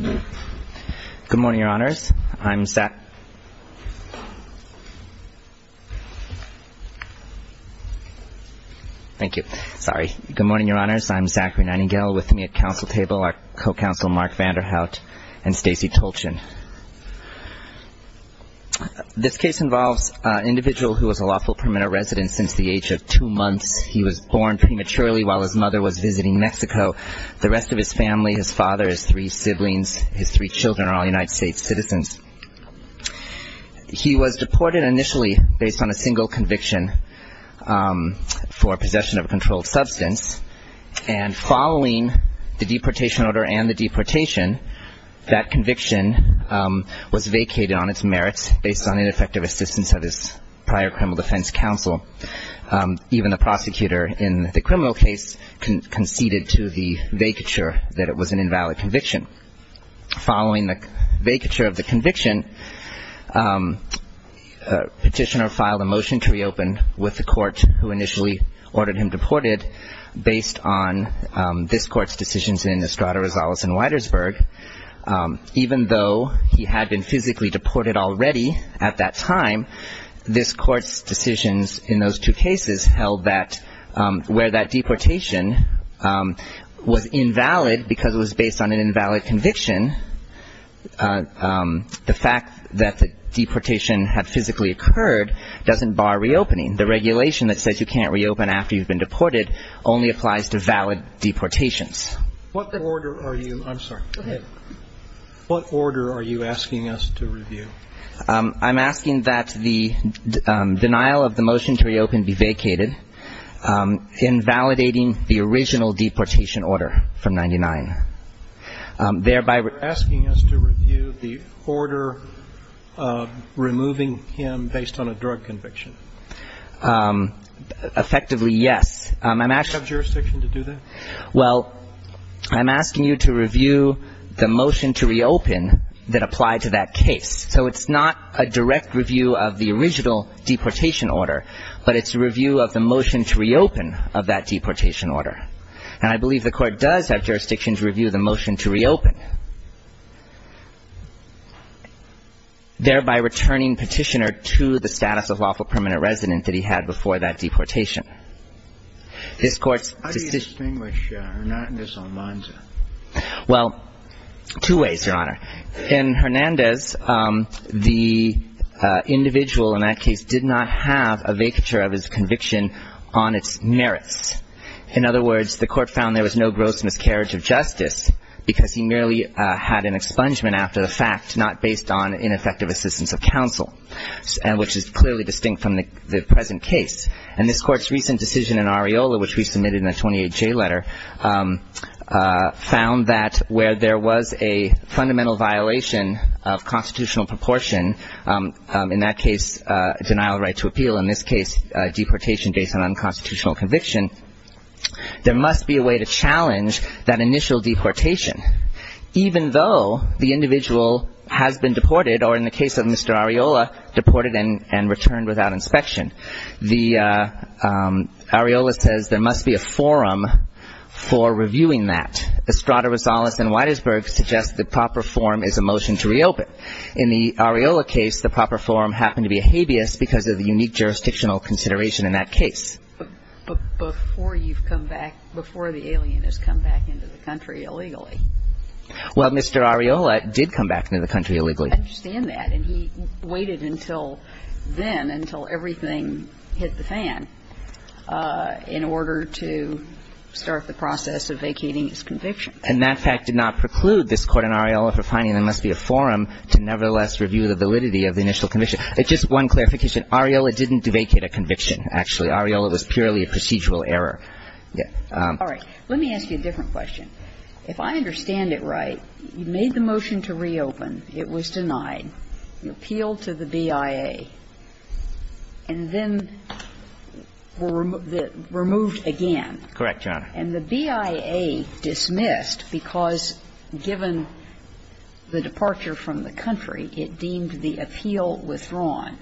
Good morning, Your Honors. I'm Zachary Nightingale. With me at council table are Co-Counsel Mark Vanderhout and Stacey Tolchin. This case involves an individual who was a lawful permanent resident since the age of two months. He was born prematurely while his mother was visiting Mexico. The rest of his family, his father, his three siblings, his three children are all United States citizens. He was deported initially based on a single conviction for possession of a controlled substance and following the deportation order and the deportation, that conviction was vacated on its merits based on ineffective assistance of his prior criminal defense counsel. Even the prosecutor in the criminal case conceded to the vacature that it was an invalid conviction. Following the vacature of the conviction, petitioner filed a motion to reopen with the court who initially ordered him deported based on this court's decisions in Estrada, Rosales and Widersberg. Even though he had been physically deported already at that time, this court's decisions in those two cases held that where that deportation was invalid because it was based on an invalid conviction, the fact that the deportation had physically occurred doesn't bar reopening. The regulation that says you can't reopen after you've been deported only applies to valid deportations. What order are you, I'm sorry, what order are you asking us to review? I'm asking that the denial of the motion to reopen be vacated, invalidating the original deportation order from 99, thereby asking us to review the order of removing him based on a drug conviction. Effectively, yes. Do you have jurisdiction to do that? Well, I'm asking you to review the motion to reopen that applied to that case. So it's not a direct review of the original deportation order, but it's a review of the motion to reopen of that deportation order. And I believe the court does have jurisdiction to review the motion to reopen, thereby returning petitioner to the status of lawful permanent resident that he had before that deportation. How do you distinguish Hernandez-Almanza? Well, two ways, Your Honor. In Hernandez, the individual in that case did not have a vacature of his conviction on its merits. In other words, the court found there was no gross miscarriage of justice because he merely had an expungement after the fact, not based on ineffective assistance of counsel, which is clearly distinct from the present case. And this court's recent decision in Areola, which we submitted in the 28-J letter, found that where there was a fundamental violation of constitutional proportion, in that case, denial of right to appeal, in this case, deportation based on unconstitutional conviction, there must be a way to challenge that initial deportation, even though the individual has been deported, or in the case, returned without inspection. The Areola says there must be a forum for reviewing that. Estrada-Rosales and Weitersberg suggest the proper forum is a motion to reopen. In the Areola case, the proper forum happened to be a habeas because of the unique jurisdictional consideration in that case. But before you've come back, before the alien has come back into the country illegally. Well, Mr. Areola did come back into the country illegally, and he did not vacate his conviction until everything hit the fan in order to start the process of vacating his conviction. And that fact did not preclude this court in Areola for finding there must be a forum to nevertheless review the validity of the initial conviction. Just one clarification. Areola didn't vacate a conviction, actually. Areola was purely a procedural error. All right. Let me ask you a different question. If I understand it right, you made the motion to reopen. It was denied. You appealed to the BIA, and then were removed again. Correct, Your Honor. And the BIA dismissed because, given the departure from the country, it deemed the appeal withdrawn.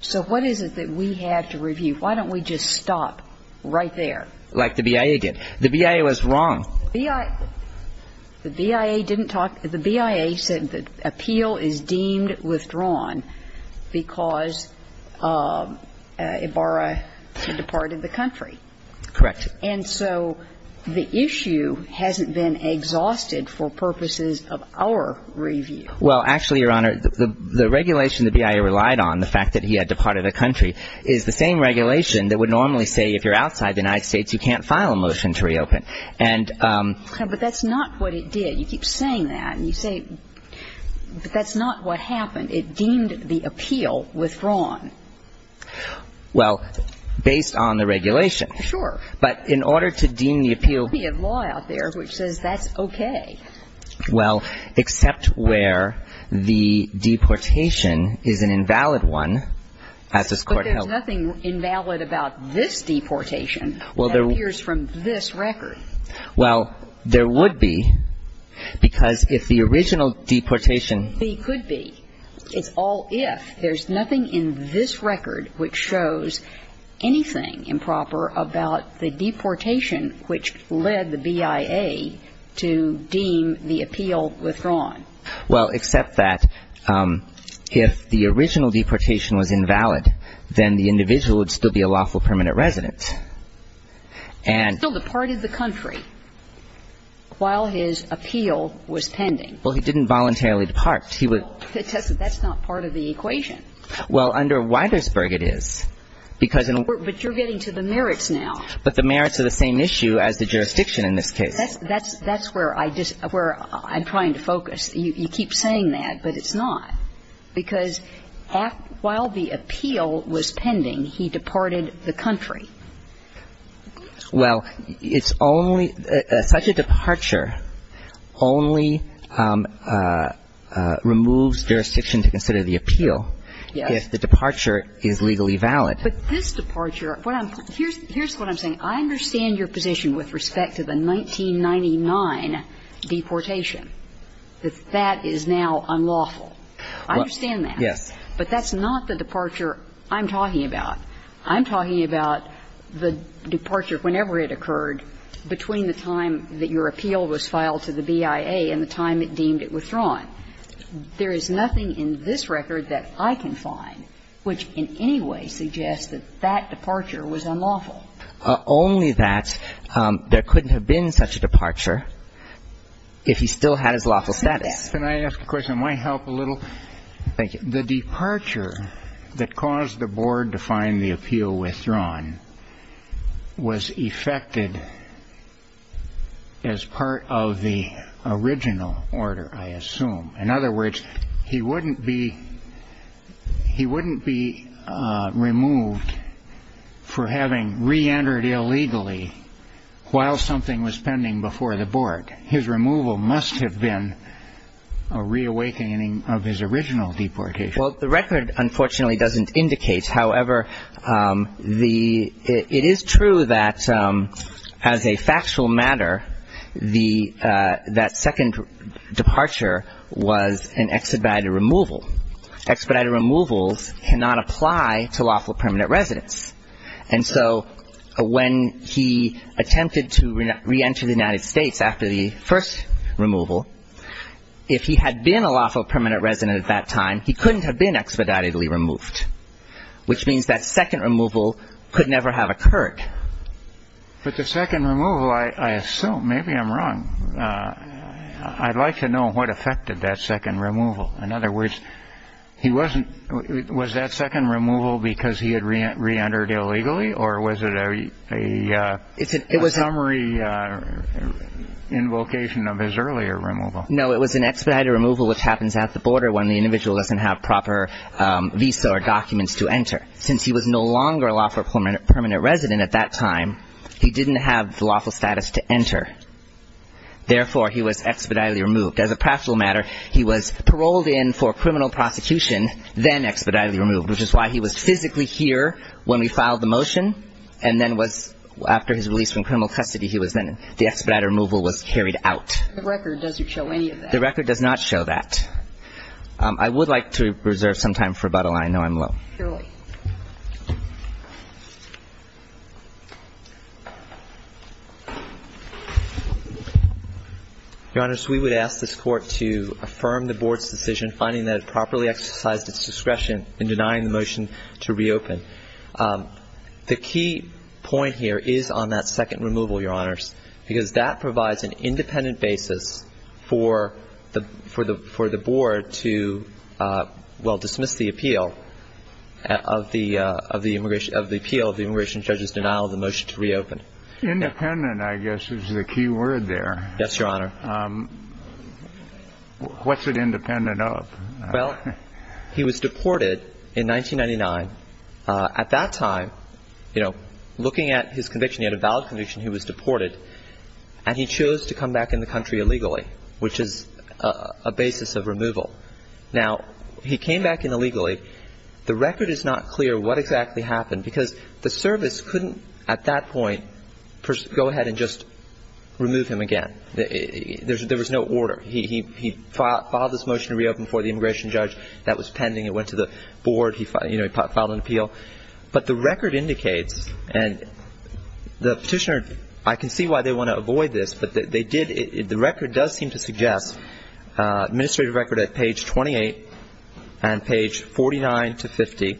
So what is it that we have to review? Why don't we just stop right there? Like the BIA did. The BIA was wrong. The BIA didn't talk – the BIA said the appeal is deemed withdrawn because Ibarra had departed the country. Correct. And so the issue hasn't been exhausted for purposes of our review. Well, actually, Your Honor, the regulation the BIA relied on, the fact that he had departed a country, is the same regulation that would normally say if you're outside the United States, you can't file a motion to reopen. But that's not what it did. You keep saying that. And you say, but that's not what happened. It deemed the appeal withdrawn. Well, based on the regulation. Sure. But in order to deem the appeal – There's plenty of law out there which says that's okay. Well, except where the deportation is an invalid one, as this Court held. Well, there's nothing invalid about this deportation that appears from this record. Well, there would be, because if the original deportation – There could be. It's all if. There's nothing in this record which shows anything improper about the deportation which led the BIA to deem the appeal withdrawn. Well, except that if the original deportation was invalid, then the individual would still be a lawful permanent resident. And – He still departed the country while his appeal was pending. Well, he didn't voluntarily depart. He would – Well, that's not part of the equation. Well, under Weitersberg, it is. Because – But you're getting to the merits now. But the merits are the same issue as the jurisdiction in this case. That's where I'm trying to focus. You keep saying that, but it's not. Because while the appeal was pending, he departed the country. Well, it's only – such a departure only removes jurisdiction to consider the appeal if the departure is legally valid. But this departure – what I'm – here's what I'm saying. I understand your position with respect to the 1999 deportation, that that is now unlawful. I understand that. Yes. But that's not the departure I'm talking about. I'm talking about the departure whenever it occurred between the time that your appeal was filed to the BIA and the time it deemed it withdrawn. There is nothing in this record that I can find which in any way suggests that that departure was unlawful. Only that there couldn't have been such a departure if he still had his lawful status. Can I ask a question? It might help a little. Thank you. The departure that caused the board to find the appeal withdrawn was effected as part of the original order, I assume. In other words, he wouldn't be – he wouldn't be removed for having reentered illegally while something was pending before the board. His removal must have been a reawakening of his original deportation. Well, the record unfortunately doesn't indicate. However, the – it is true that as a factual matter, the – that second departure was an expedited removal. Expedited removals cannot apply to lawful permanent residence. And so when he attempted to reenter the United States after the first removal, if he had been a lawful permanent resident at that time, he couldn't have been expeditedly removed, which means that second removal could never have occurred. But the second removal, I assume – maybe I'm wrong. I'd like to know what effected that second removal. In other words, he wasn't – was that second removal because he had reentered illegally or was it a summary invocation of his earlier removal? No, it was an expedited removal which happens at the border when the individual doesn't have proper visa or documents to enter. Since he was no longer a lawful permanent resident at that time, he didn't have the lawful status to enter. As a practical matter, he was paroled in for criminal prosecution, then expeditedly removed, which is why he was physically here when we filed the motion and then was – after his release from criminal custody, he was then – the expedited removal was carried out. The record doesn't show any of that. The record does not show that. I would like to reserve some time for rebuttal. I know I'm low. Surely. Your Honors, we would ask this Court to affirm the Board's decision finding that it properly exercised its discretion in denying the motion to reopen. The key point here is on that second removal, Your Honors, because that provides an independent basis for the – for the Board to, well, dismiss the appeal. Of the – of the immigration – of the appeal of the immigration judge's denial of the motion to reopen. Independent, I guess, is the key word there. Yes, Your Honor. What's it independent of? Well, he was deported in 1999. At that time, you know, looking at his conviction, he had a valid conviction he was deported, and he chose to come back in the country illegally, which is a basis of removal. Now, he came back in illegally. The record is not clear what exactly happened, because the service couldn't, at that point, go ahead and just remove him again. There was no order. He filed this motion to reopen for the immigration judge. That was pending. It went to the Board. He filed an appeal. But the record indicates, and the Petitioner – I can see why they want to avoid this, but they did – the record does seem to suggest, administrative record at page 28 and page 49 to 50,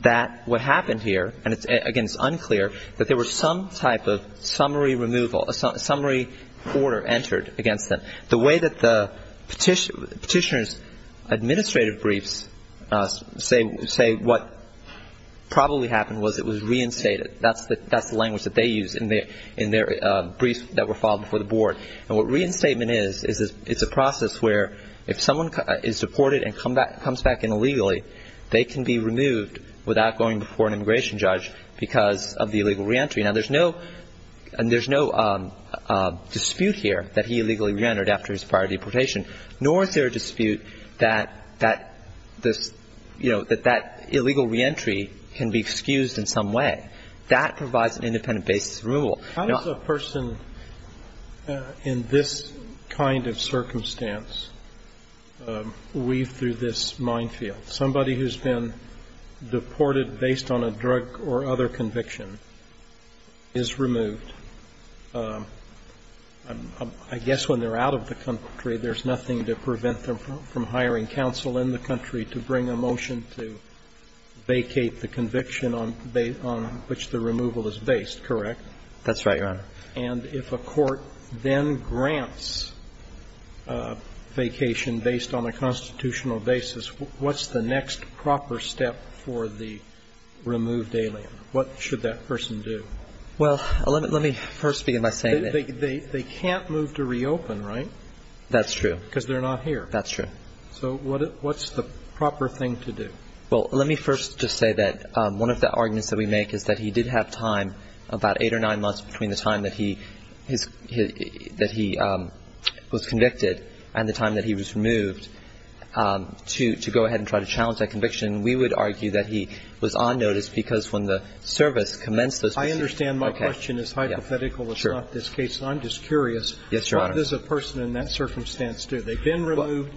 that what happened here – and, again, it's unclear – that there was some type of summary removal, a summary order entered against them. The way that the Petitioner's administrative briefs say what probably happened was it was reinstated. That's the language that they use in their briefs that were filed before the Board. And what reinstatement is, is it's a process where, if someone is deported and comes back in illegally, they can be removed without going before an immigration judge because of the illegal reentry. Now, there's no – and there's no dispute here that he illegally reentered after his prior deportation, nor is there a dispute that this – you know, that that illegal reentry can be excused in some way. That provides an independent basis of removal. Roberts. How does a person in this kind of circumstance weave through this minefield? Somebody who's been deported based on a drug or other conviction is removed. I guess when they're out of the country, there's nothing to prevent them from hiring counsel in the country to bring a motion to vacate the conviction on which the removal is based, correct? That's right, Your Honor. And if a court then grants vacation based on a constitutional basis, what's the next proper step for the removed alien? What should that person do? Well, let me first begin by saying that they can't move to reopen, right? That's true. Because they're not here. That's true. So what's the proper thing to do? Well, let me first just say that one of the arguments that we make is that he did have time, about 8 or 9 months, between the time that he – that he was convicted and the time that he was removed, to go ahead and try to challenge that conviction. We would argue that he was on notice because when the service commenced, this was – I understand my question is hypothetical. It's not this case. I'm just curious. Yes, Your Honor. What does a person in that circumstance do? They've been removed.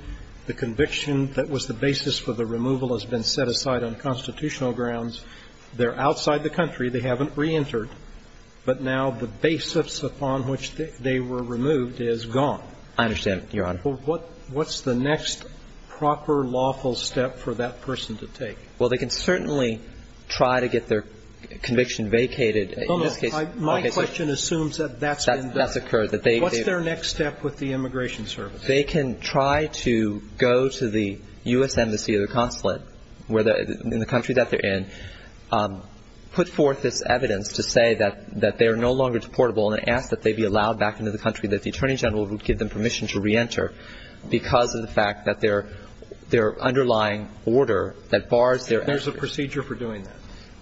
The conviction that was the basis for the removal has been set aside on constitutional grounds. They're outside the country. They haven't reentered. But now the basis upon which they were removed is gone. I understand, Your Honor. What's the next proper lawful step for that person to take? Well, they can certainly try to get their conviction vacated. No, no. My question assumes that that's been done. That's occurred. What's their next step with the immigration service? They can try to go to the U.S. Embassy or the consulate in the country that they're in, put forth this evidence to say that they are no longer deportable and ask that they be allowed back into the country, that the Attorney General would give them permission to reenter because of the fact that their underlying order that bars their – There's a procedure for doing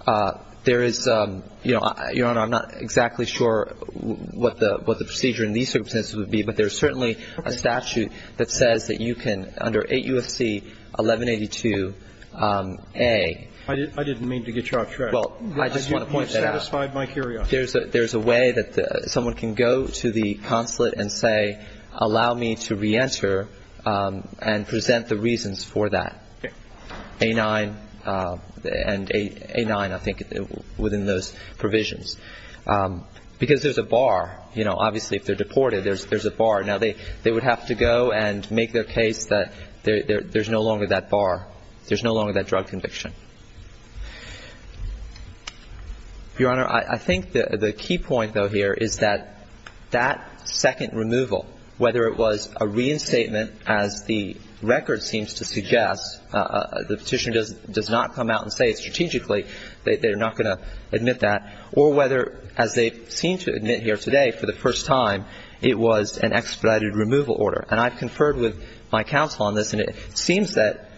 that? There is – Your Honor, I'm not exactly sure what the procedure in these circumstances would be, but there's certainly a statute that says that you can, under 8 U.S.C. 1182a – I didn't mean to get you off track. Well, I just want to point that out. You've satisfied my curiosity. There's a way that someone can go to the consulate and say, allow me to reenter and present the reasons for that, A-9, and A-9, I think, within those provisions. Because there's a bar. You know, obviously, if they're deported, there's a bar. Now, they would have to go and make their case that there's no longer that bar, there's no longer that drug conviction. Your Honor, I think the key point, though, here is that that second removal, whether it was a reinstatement, as the record seems to suggest, the petitioner does not come out and say it strategically, they're not going to admit that, or whether, as they seem to admit here today, for the first time, it was an expedited removal order. And I've conferred with my counsel on this, and it seems that,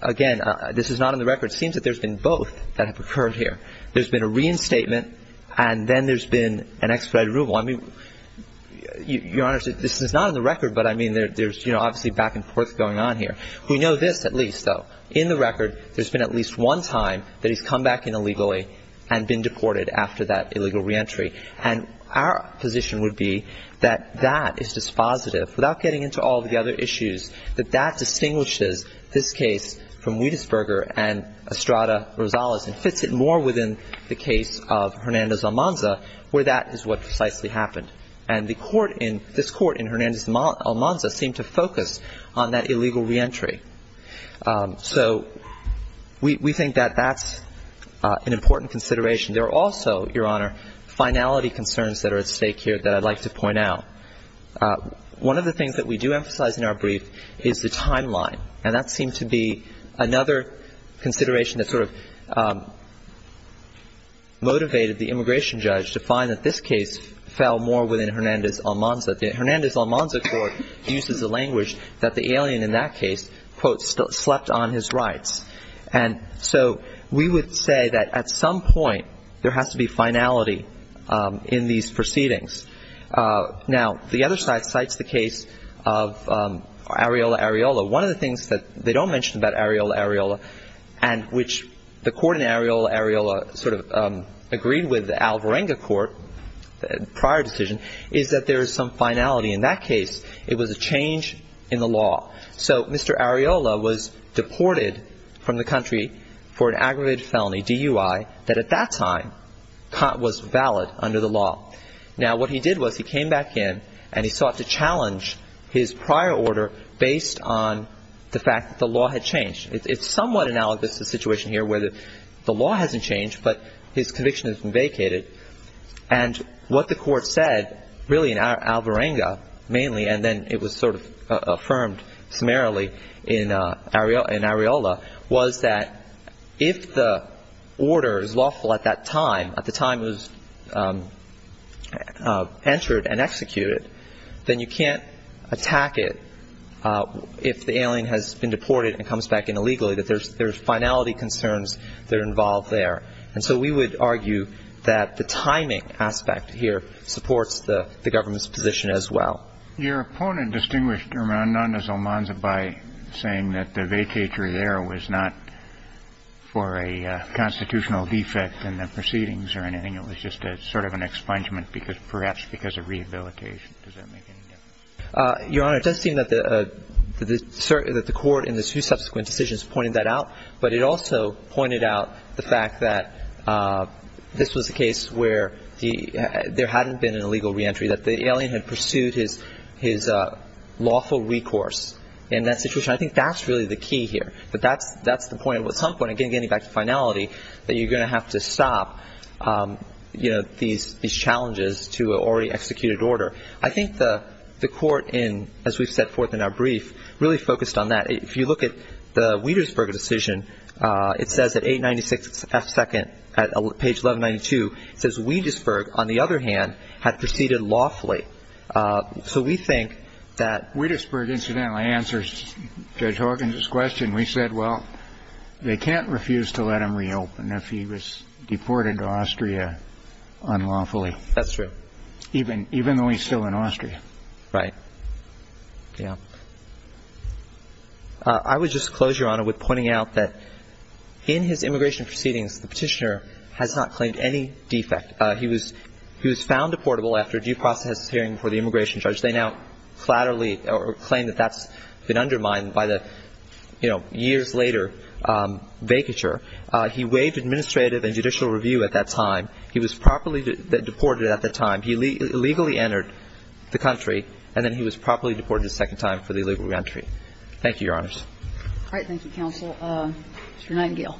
again, this is not in the record, it seems that there's been both that have occurred here. There's been a reinstatement, and then there's been an expedited removal. I mean, Your Honor, this is not in the record, but, I mean, there's, you know, obviously back and forth going on here. We know this, at least, though. In the record, there's been at least one time that he's come back in illegally and been deported after that illegal reentry. And our position would be that that is dispositive, without getting into all the other issues, that that distinguishes this case from Wietesberger and Estrada-Rosales, and fits it more within the case of Hernandez-Almanza, where that is what precisely happened. And the court in, this court in Hernandez-Almanza seemed to focus on that illegal reentry. So we think that that's an important consideration. There are also, Your Honor, finality concerns that are at stake here that I'd like to point out. One of the things that we do emphasize in our brief is the timeline. And that seemed to be another consideration that sort of motivated the immigration judge to find that this case fell more within Hernandez-Almanza. Hernandez-Almanza court uses a language that the alien in that case, quote, slept on his rights. And so we would say that at some point, there has to be finality in these proceedings. Now, the other side cites the case of Areola-Areola. One of the things that they don't mention about Areola-Areola, and which the court in Areola-Areola sort of agreed with the Alvarenga court, prior decision, is that there is some finality in that case. It was a change in the law. So Mr. Areola was deported from the country for an aggravated felony, DUI, that at that time was valid under the law. Now, what he did was he came back in and he sought to challenge his prior order based on the fact that the law had changed. It's somewhat analogous to the situation here where the law hasn't changed, but his conviction has been vacated. And what the court said, really in Alvarenga mainly, and then it was sort of affirmed summarily in Areola, was that if the order is lawful at that time, at the time it was entered and executed, then you can't attack it if the alien has been deported and comes back in illegally, that there's finality concerns that are involved there. And so we would argue that the timing aspect here supports the government's position as well. Your opponent distinguished Hernandez-Almanza by saying that the vacatory there was not for a constitutional defect in the proceedings or anything. It was just sort of an expungement, perhaps because of rehabilitation. Does that make any difference? Your Honor, it does seem that the court in the two subsequent decisions pointed that out, but it also pointed out the fact that this was a case where there hadn't been an illegal reentry, that the alien had pursued his lawful recourse in that situation. I think that's really the key here, that that's the point. At some point, again getting back to finality, that you're going to have to stop these challenges to an already executed order. I think the court, as we've set forth in our brief, really focused on that. If you look at the Wietersburg decision, it says at page 1192, it says Wietersburg, on the other hand, had proceeded lawfully. So we think that... Wietersburg incidentally answers Judge Horgan's question. We said, well, they can't refuse to let him reopen if he was deported to Austria unlawfully. That's true. Even though he's still in Austria. Right. Yeah. I would just close, Your Honor, with pointing out that in his immigration proceedings, the petitioner has not claimed any defect. He was found deportable after due process hearing for the immigration charge. They now flatterly claim that that's been undermined by the years later vacature. He waived administrative and judicial review at that time. He was properly deported at the time. He illegally entered the country, and then he was properly deported a second time for the illegal reentry. Thank you, Your Honors. All right. Thank you, Counsel. Mr. Nightingale.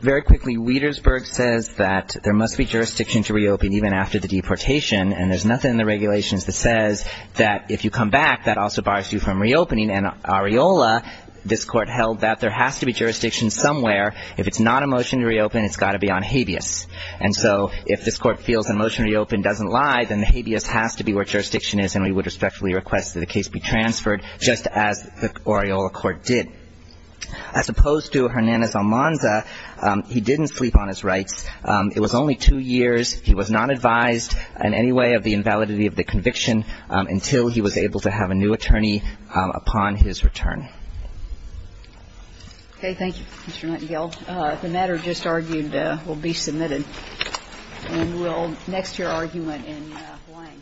Very quickly, Wietersburg says that there must be jurisdiction to reopen even after the deportation. And there's nothing in the regulations that says that if you come back, that also bars you from reopening. And Ariola, this Court held that there has to be jurisdiction somewhere. If it's not a motion to reopen, it's got to be on habeas. And so if this Court feels a motion to reopen doesn't lie, then the habeas has to be where jurisdiction is, and we would respectfully request that the case be transferred just as the Ariola Court did. As opposed to Hernandez-Almanza, he didn't sleep on his rights. It was only two years. He was not advised in any way of the invalidity of the conviction until he was able to have a new attorney upon his return. Okay. Thank you, Mr. Nightingale. The matter just argued will be submitted. And we'll next hear argument in Hlaing.